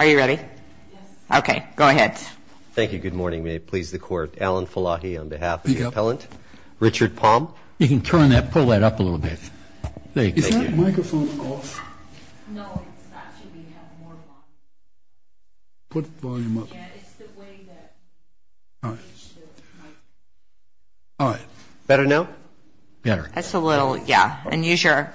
Are you ready? Yes. Okay. Go ahead. Thank you. Good morning. May it please the Court. Alan Falahi on behalf of the appellant. Richard Palm. You can turn that, pull that up a little bit. Thank you. Is that microphone off? No. Actually, we have more volume. Put volume up. Yeah. It's the way that... All right. Better now? Better. That's a little, yeah. And use your,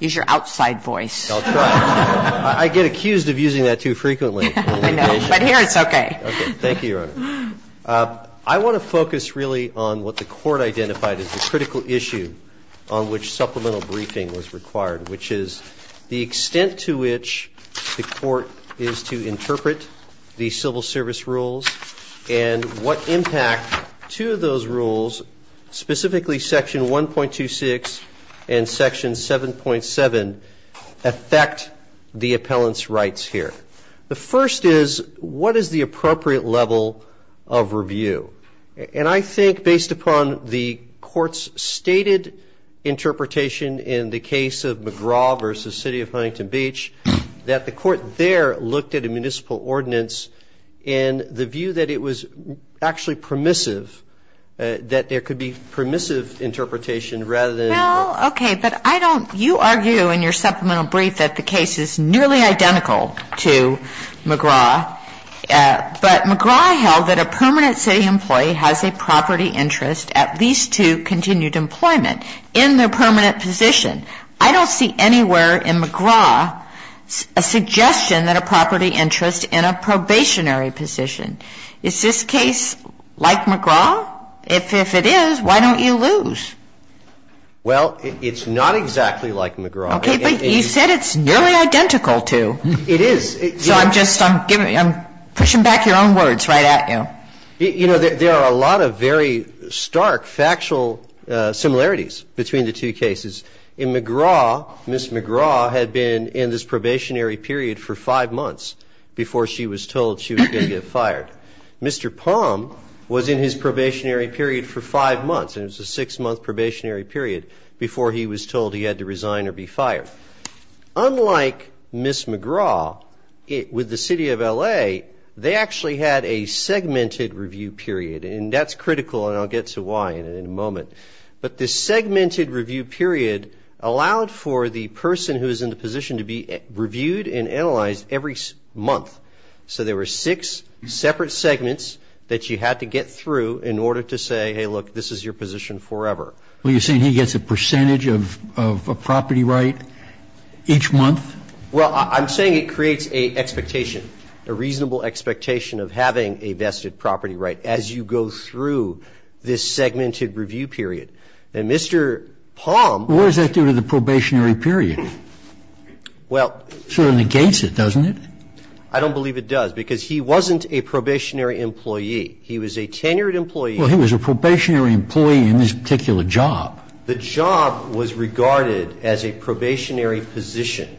use your outside voice. That's right. I get it. I get it. I'm accused of using that too frequently. I know. But here it's okay. Okay. Thank you, Your Honor. I want to focus really on what the Court identified as the critical issue on which supplemental briefing was required, which is the extent to which the Court is to interpret the civil service rules and what impact to those rules, specifically section 1.26 and section 7.7, affect the appellant's rights here. The first is, what is the appropriate level of review? And I think, based upon the Court's stated interpretation in the case of McGraw v. City of Huntington Beach, that the Court there looked at a municipal ordinance in the view that it was actually permissive, that there could be permissive interpretation rather than... Well, okay. But I don't... You argue in your supplemental brief that the case is nearly identical to McGraw, but McGraw held that a permanent city employee has a property interest at least to continued employment in their permanent position. I don't see anywhere in McGraw a suggestion that a property interest in a probationary position. Is this case like McGraw? If it is, why don't you lose? Well, it's not exactly like McGraw. Okay, but you said it's nearly identical to. It is. So I'm just, I'm giving, I'm pushing back your own words right at you. You know, there are a lot of very stark factual similarities between the two cases. In McGraw, Ms. McGraw had been in this probationary period for 5 months before she was told she was going to get fired. In fact, Mr. Palm was in his probationary period for 5 months, and it was a 6-month probationary period before he was told he had to resign or be fired. Unlike Ms. McGraw, with the City of L.A., they actually had a segmented review period, and that's critical, and I'll get to why in a moment. But this segmented review period allowed for the person who is in the position to be reviewed and analyzed every month. So there were 6 separate segments that you had to get through in order to say, hey, look, this is your position forever. Well, you're saying he gets a percentage of a property right each month? Well, I'm saying it creates an expectation, a reasonable expectation of having a vested property right as you go through this segmented review period. And Mr. Palm was at the probationary period. Well. It sort of negates it, doesn't it? I don't believe it does, because he wasn't a probationary employee. He was a tenured employee. Well, he was a probationary employee in this particular job. The job was regarded as a probationary position,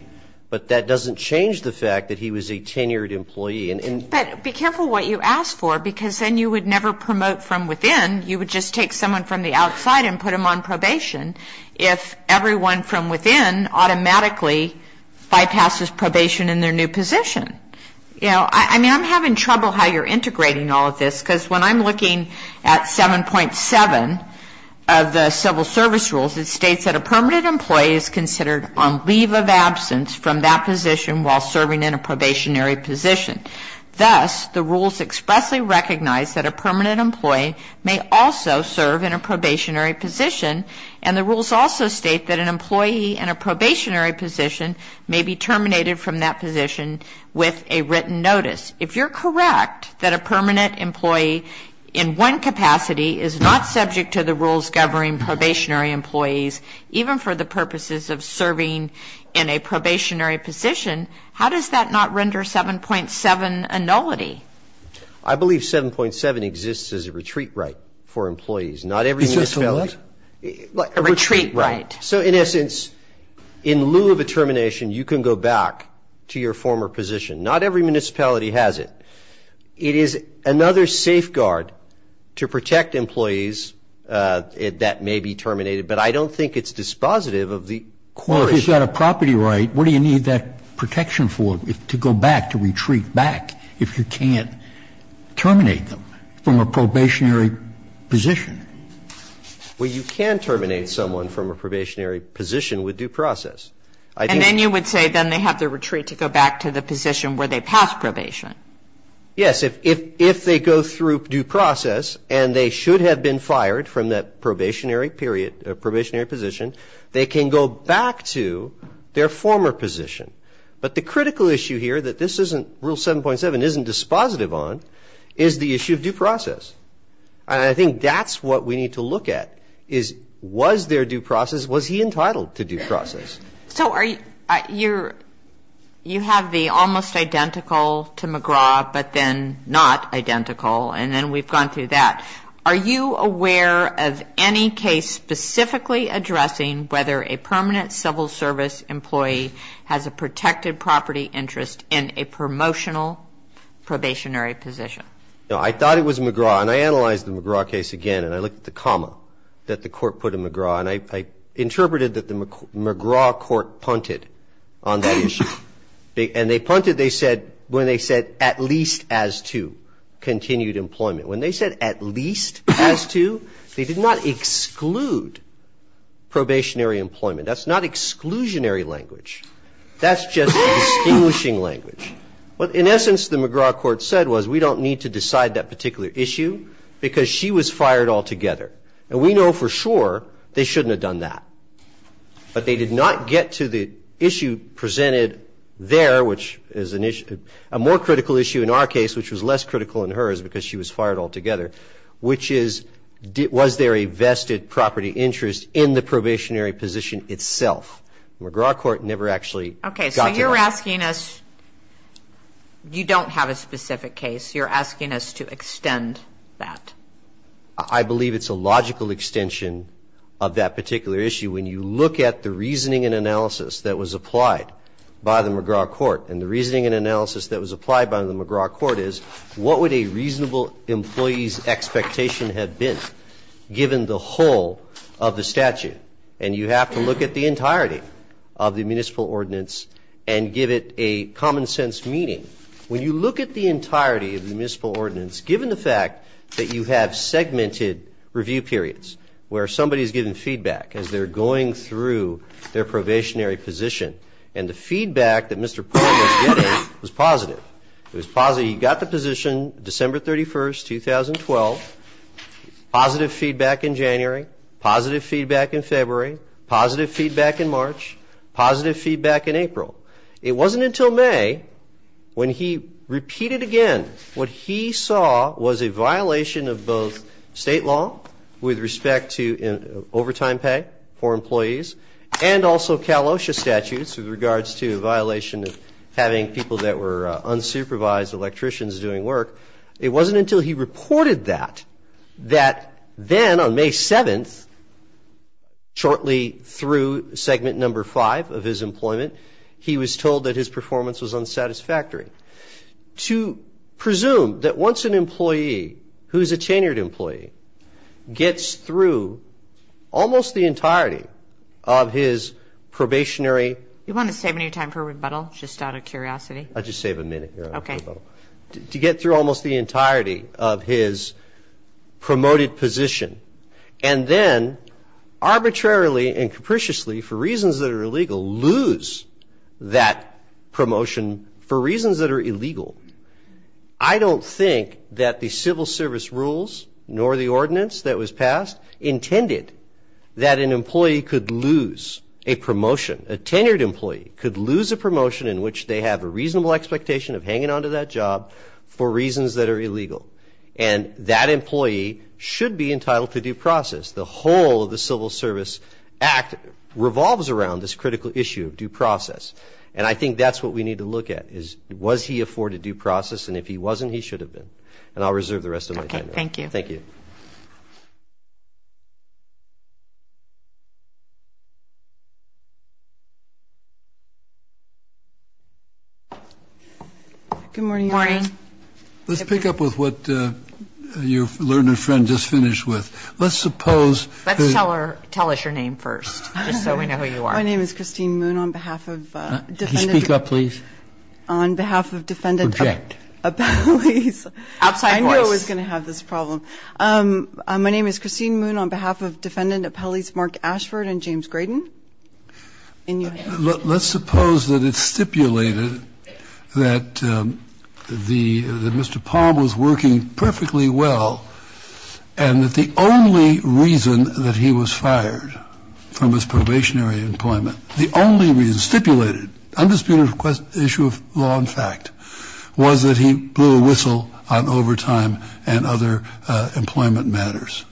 but that doesn't change the fact that he was a tenured employee. But be careful what you ask for, because then you would never promote from within. You would just take someone from the outside and put them on probation if everyone from within automatically bypasses probation in their new position. You know, I mean, I'm having trouble how you're integrating all of this, because when I'm looking at 7.7 of the civil service rules, it states that a permanent employee is considered on leave of absence from that position while serving in a probationary position. Thus, the rules expressly recognize that a permanent employee may also serve in a probationary position may be terminated from that position with a written notice. If you're correct that a permanent employee in one capacity is not subject to the rules governing probationary employees, even for the purposes of serving in a probationary position, how does that not render 7.7 a nullity? I believe 7.7 exists as a retreat right for employees. Not everything is valid. Is this a what? A retreat right. So, in essence, in lieu of a termination, you can go back to your former position. Not every municipality has it. It is another safeguard to protect employees that may be terminated, but I don't think it's dispositive of the qualification. Well, if you've got a property right, what do you need that protection for, to go back, to retreat back, if you can't terminate them from a probationary position? Well, you can terminate someone from a probationary position with due process. And then you would say then they have to retreat to go back to the position where they passed probation. Yes. If they go through due process and they should have been fired from that probationary period, probationary position, they can go back to their former position. But the critical issue here that this isn't rule 7.7 isn't dispositive on is the issue of due process. And I think that's what we need to look at is was there due process? Was he entitled to due process? So, you have the almost identical to McGraw, but then not identical, and then we've gone through that. Are you aware of any case specifically addressing whether a permanent civil service employee has a protected property interest in a promotional probationary position? No, I thought it was McGraw, and I analyzed the McGraw case again, and I looked at the comma that the court put in McGraw. And I interpreted that the McGraw court punted on that issue. And they punted, they said, when they said at least as to continued employment. When they said at least as to, they did not exclude probationary employment. That's not exclusionary language. That's just distinguishing language. What, in essence, the McGraw court said was we don't need to decide that particular issue because she was fired altogether. And we know for sure they shouldn't have done that. But they did not get to the issue presented there, which is a more critical issue in our case, which was less critical in hers because she was fired altogether, which is was there a vested property interest in the probationary position itself? McGraw court never actually got to that. Okay, so you're asking us, you don't have a specific case. You're asking us to extend that. I believe it's a logical extension of that particular issue. When you look at the reasoning and analysis that was applied by the McGraw court, and the reasoning and analysis that was applied by the McGraw court is, what would a reasonable employee's expectation have been given the whole of the statute? And you have to look at the entirety of the municipal ordinance and give it a common sense meaning. When you look at the entirety of the municipal ordinance, given the fact that you have segmented review periods where somebody is given feedback as they're going through their probationary position, and the feedback that Mr. Poynter was getting was positive, it was positive. He got the position December 31st, 2012, positive feedback in January, positive feedback in February, positive feedback in March, positive feedback in April. It wasn't until May, when he repeated again what he saw was a violation of both state law with respect to overtime pay for employees, and also Cal OSHA statutes with regards to a violation of having people that were unsupervised electricians doing work. It wasn't until he reported that, that then on May 7th, shortly through segment number 5 of his employment, he was told that his performance was unsatisfactory. To presume that once an employee who is a tenured employee gets through almost the entirety of his probationary... You want to save me time for rebuttal, just out of curiosity? I'll just save a minute. Okay. To get through almost the entirety of his promoted position, and then arbitrarily and capriciously, for reasons that are illegal, lose that promotion for reasons that are illegal. I don't think that the civil service rules, nor the ordinance that was passed, intended that an employee could lose a promotion. A tenured employee could lose a promotion in which they have a reasonable expectation of hanging on to that job for reasons that are illegal. And that employee should be entitled to due process. The whole of the Civil Service Act revolves around this critical issue of due process. And I think that's what we need to look at, is was he afforded due process? And if he wasn't, he should have been. And I'll reserve the rest of my time. Okay, thank you. Thank you. Good morning, Your Honor. Good morning. Let's pick up with what your learned friend just finished with. Let's suppose that. Let's tell her. Tell us your name first, just so we know who you are. My name is Christine Moon on behalf of defendant. Can you speak up, please? On behalf of defendant. Reject. Appellees. Outside voice. I knew I was going to have this problem. My name is Christine Moon on behalf of defendant appellees Mark Ashford and James Graydon. Let's suppose that it's stipulated that the Mr. Palm was working perfectly well, and that the only reason that he was fired from his probationary employment, the only reason stipulated, undisputed issue of law and fact, was that he blew a whistle on overtime and other employment matters.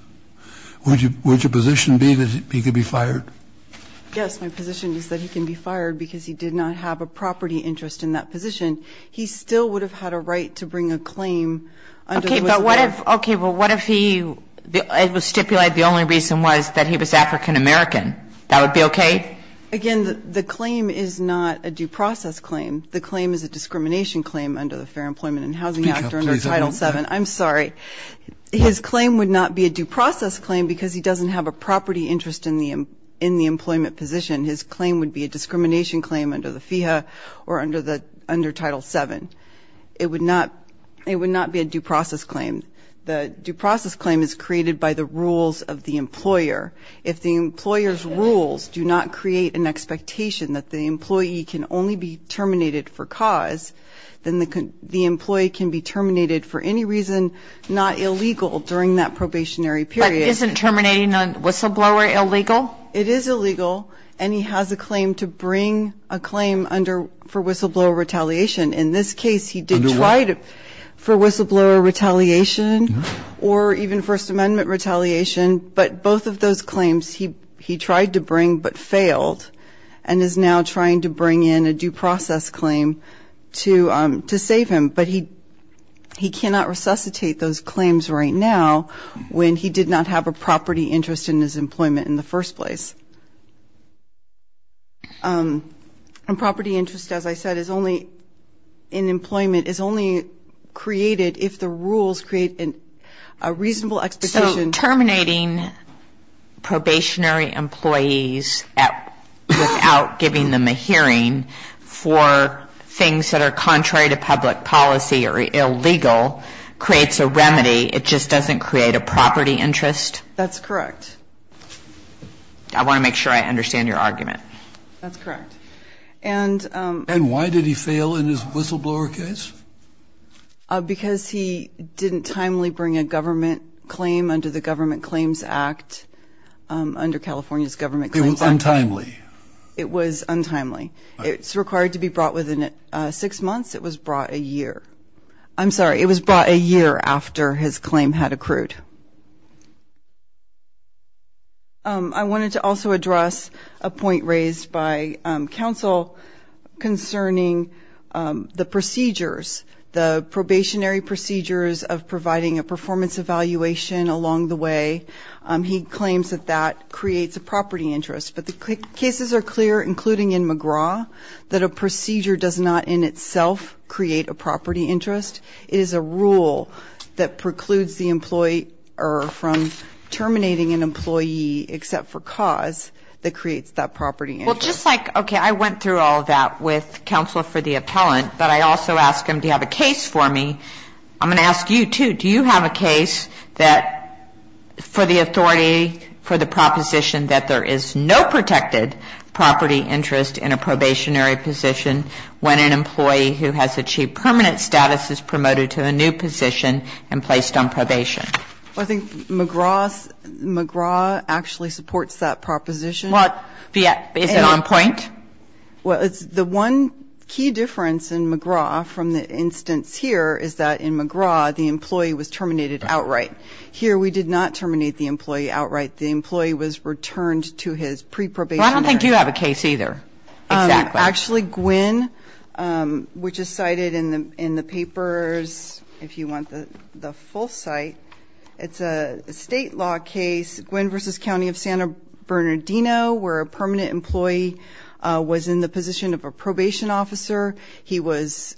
Yes, my position is that he can be fired because he did not have a property interest in that position. He still would have had a right to bring a claim. Okay, but what if he was stipulated the only reason was that he was African American? That would be okay? Again, the claim is not a due process claim. The claim is a discrimination claim under the Fair Employment and Housing Act or under Title VII. I'm sorry. His claim would not be a due process claim because he doesn't have a property interest in the employment position. His claim would be a discrimination claim under the FEHA or under Title VII. It would not be a due process claim. The due process claim is created by the rules of the employer. If the employer's rules do not create an expectation that the employee can only be terminated for cause, then the employee can be terminated for any reason not illegal during that probationary period. Isn't terminating a whistleblower illegal? It is illegal, and he has a claim to bring a claim for whistleblower retaliation. In this case, he did try for whistleblower retaliation or even First Amendment retaliation, but both of those claims he tried to bring but failed and is now trying to bring in a due process claim to save him. But he cannot resuscitate those claims right now when he did not have a property interest in his employment in the first place. And property interest, as I said, is only in employment, is only created if the rules create a reasonable expectation. So terminating probationary employees without giving them a hearing for things that are contrary to public policy or illegal creates a remedy, it just doesn't create a property interest? That's correct. I want to make sure I understand your argument. That's correct. And why did he fail in his whistleblower case? Because he didn't timely bring a government claim under the Government Claims Act, under California's Government Claims Act. It was untimely. It was untimely. It's required to be brought within six months. It was brought a year. I'm sorry, it was brought a year after his claim had accrued. I wanted to also address a point raised by counsel concerning the procedures, the probationary procedures of providing a performance evaluation along the way. He claims that that creates a property interest. But the cases are clear, including in McGraw, that a procedure does not in itself create a property interest. It is a rule that precludes the employer from terminating an employee except for cause that creates that property interest. Well, just like, okay, I went through all of that with counsel for the appellant, but I also asked him to have a case for me. I'm going to ask you, too. Do you have a case that for the authority, for the proposition that there is no protected property interest in a probationary position when an employee who has achieved permanent status is promoted to a new position and placed on probation? Well, I think McGraw actually supports that proposition. Is it on point? Well, the one key difference in McGraw from the instance here is that in McGraw, the employee was terminated outright. Here we did not terminate the employee outright. The employee was returned to his pre-probationary status. Well, I don't think you have a case either. Exactly. Actually, Gwin, which is cited in the papers, if you want the full site, it's a state law case, Gwin v. County of Santa Bernardino, where a permanent employee was in the position of a probation officer. He was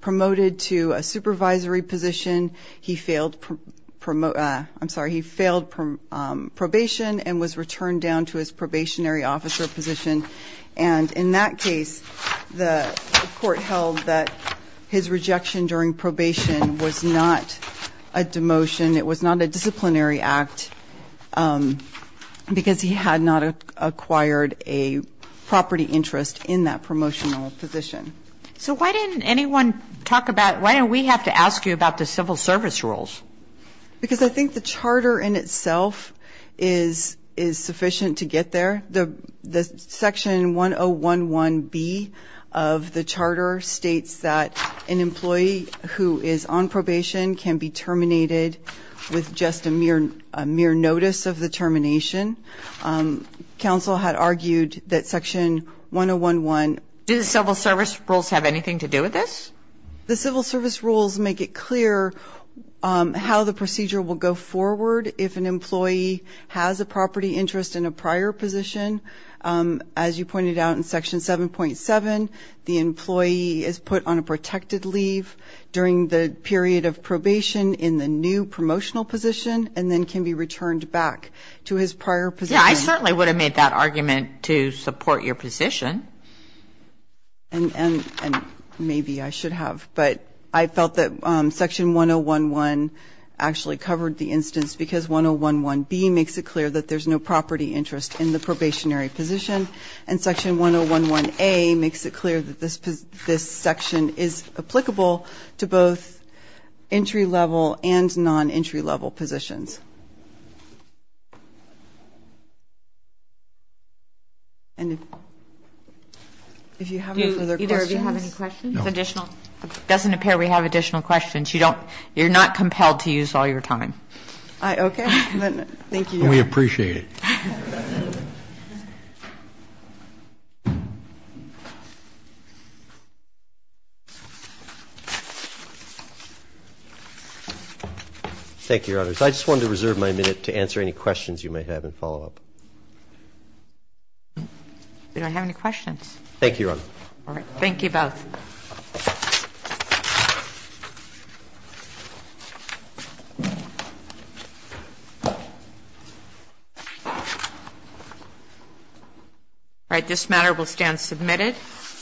promoted to a supervisory position. He failed probation and was returned down to his probationary officer position. And in that case, the court held that his rejection during probation was not a demotion. It was not a disciplinary act because he had not acquired a property interest in that promotional position. So why didn't anyone talk about why don't we have to ask you about the civil service rules? Because I think the charter in itself is sufficient to get there. Section 1011B of the charter states that an employee who is on probation can be terminated with just a mere notice of the termination. Council had argued that Section 1011. Do the civil service rules have anything to do with this? The civil service rules make it clear how the procedure will go forward if an employee has a property interest in a prior position. As you pointed out in Section 7.7, the employee is put on a protected leave during the period of probation in the new promotional position and then can be returned back to his prior position. Yes, I certainly would have made that argument to support your position. And maybe I should have. But I felt that Section 1011 actually covered the instance because 1011B makes it clear that there's no property interest in the probationary position. And Section 1011A makes it clear that this section is applicable to both entry-level and non-entry-level positions. And if you have any further questions. It doesn't appear we have additional questions. You're not compelled to use all your time. Okay. Thank you. We appreciate it. Thank you, Your Honors. I just wanted to reserve my minute to answer any questions you may have and follow up. We don't have any questions. Thank you, Your Honor. All right. Thank you both. All right. This matter will stand submitted.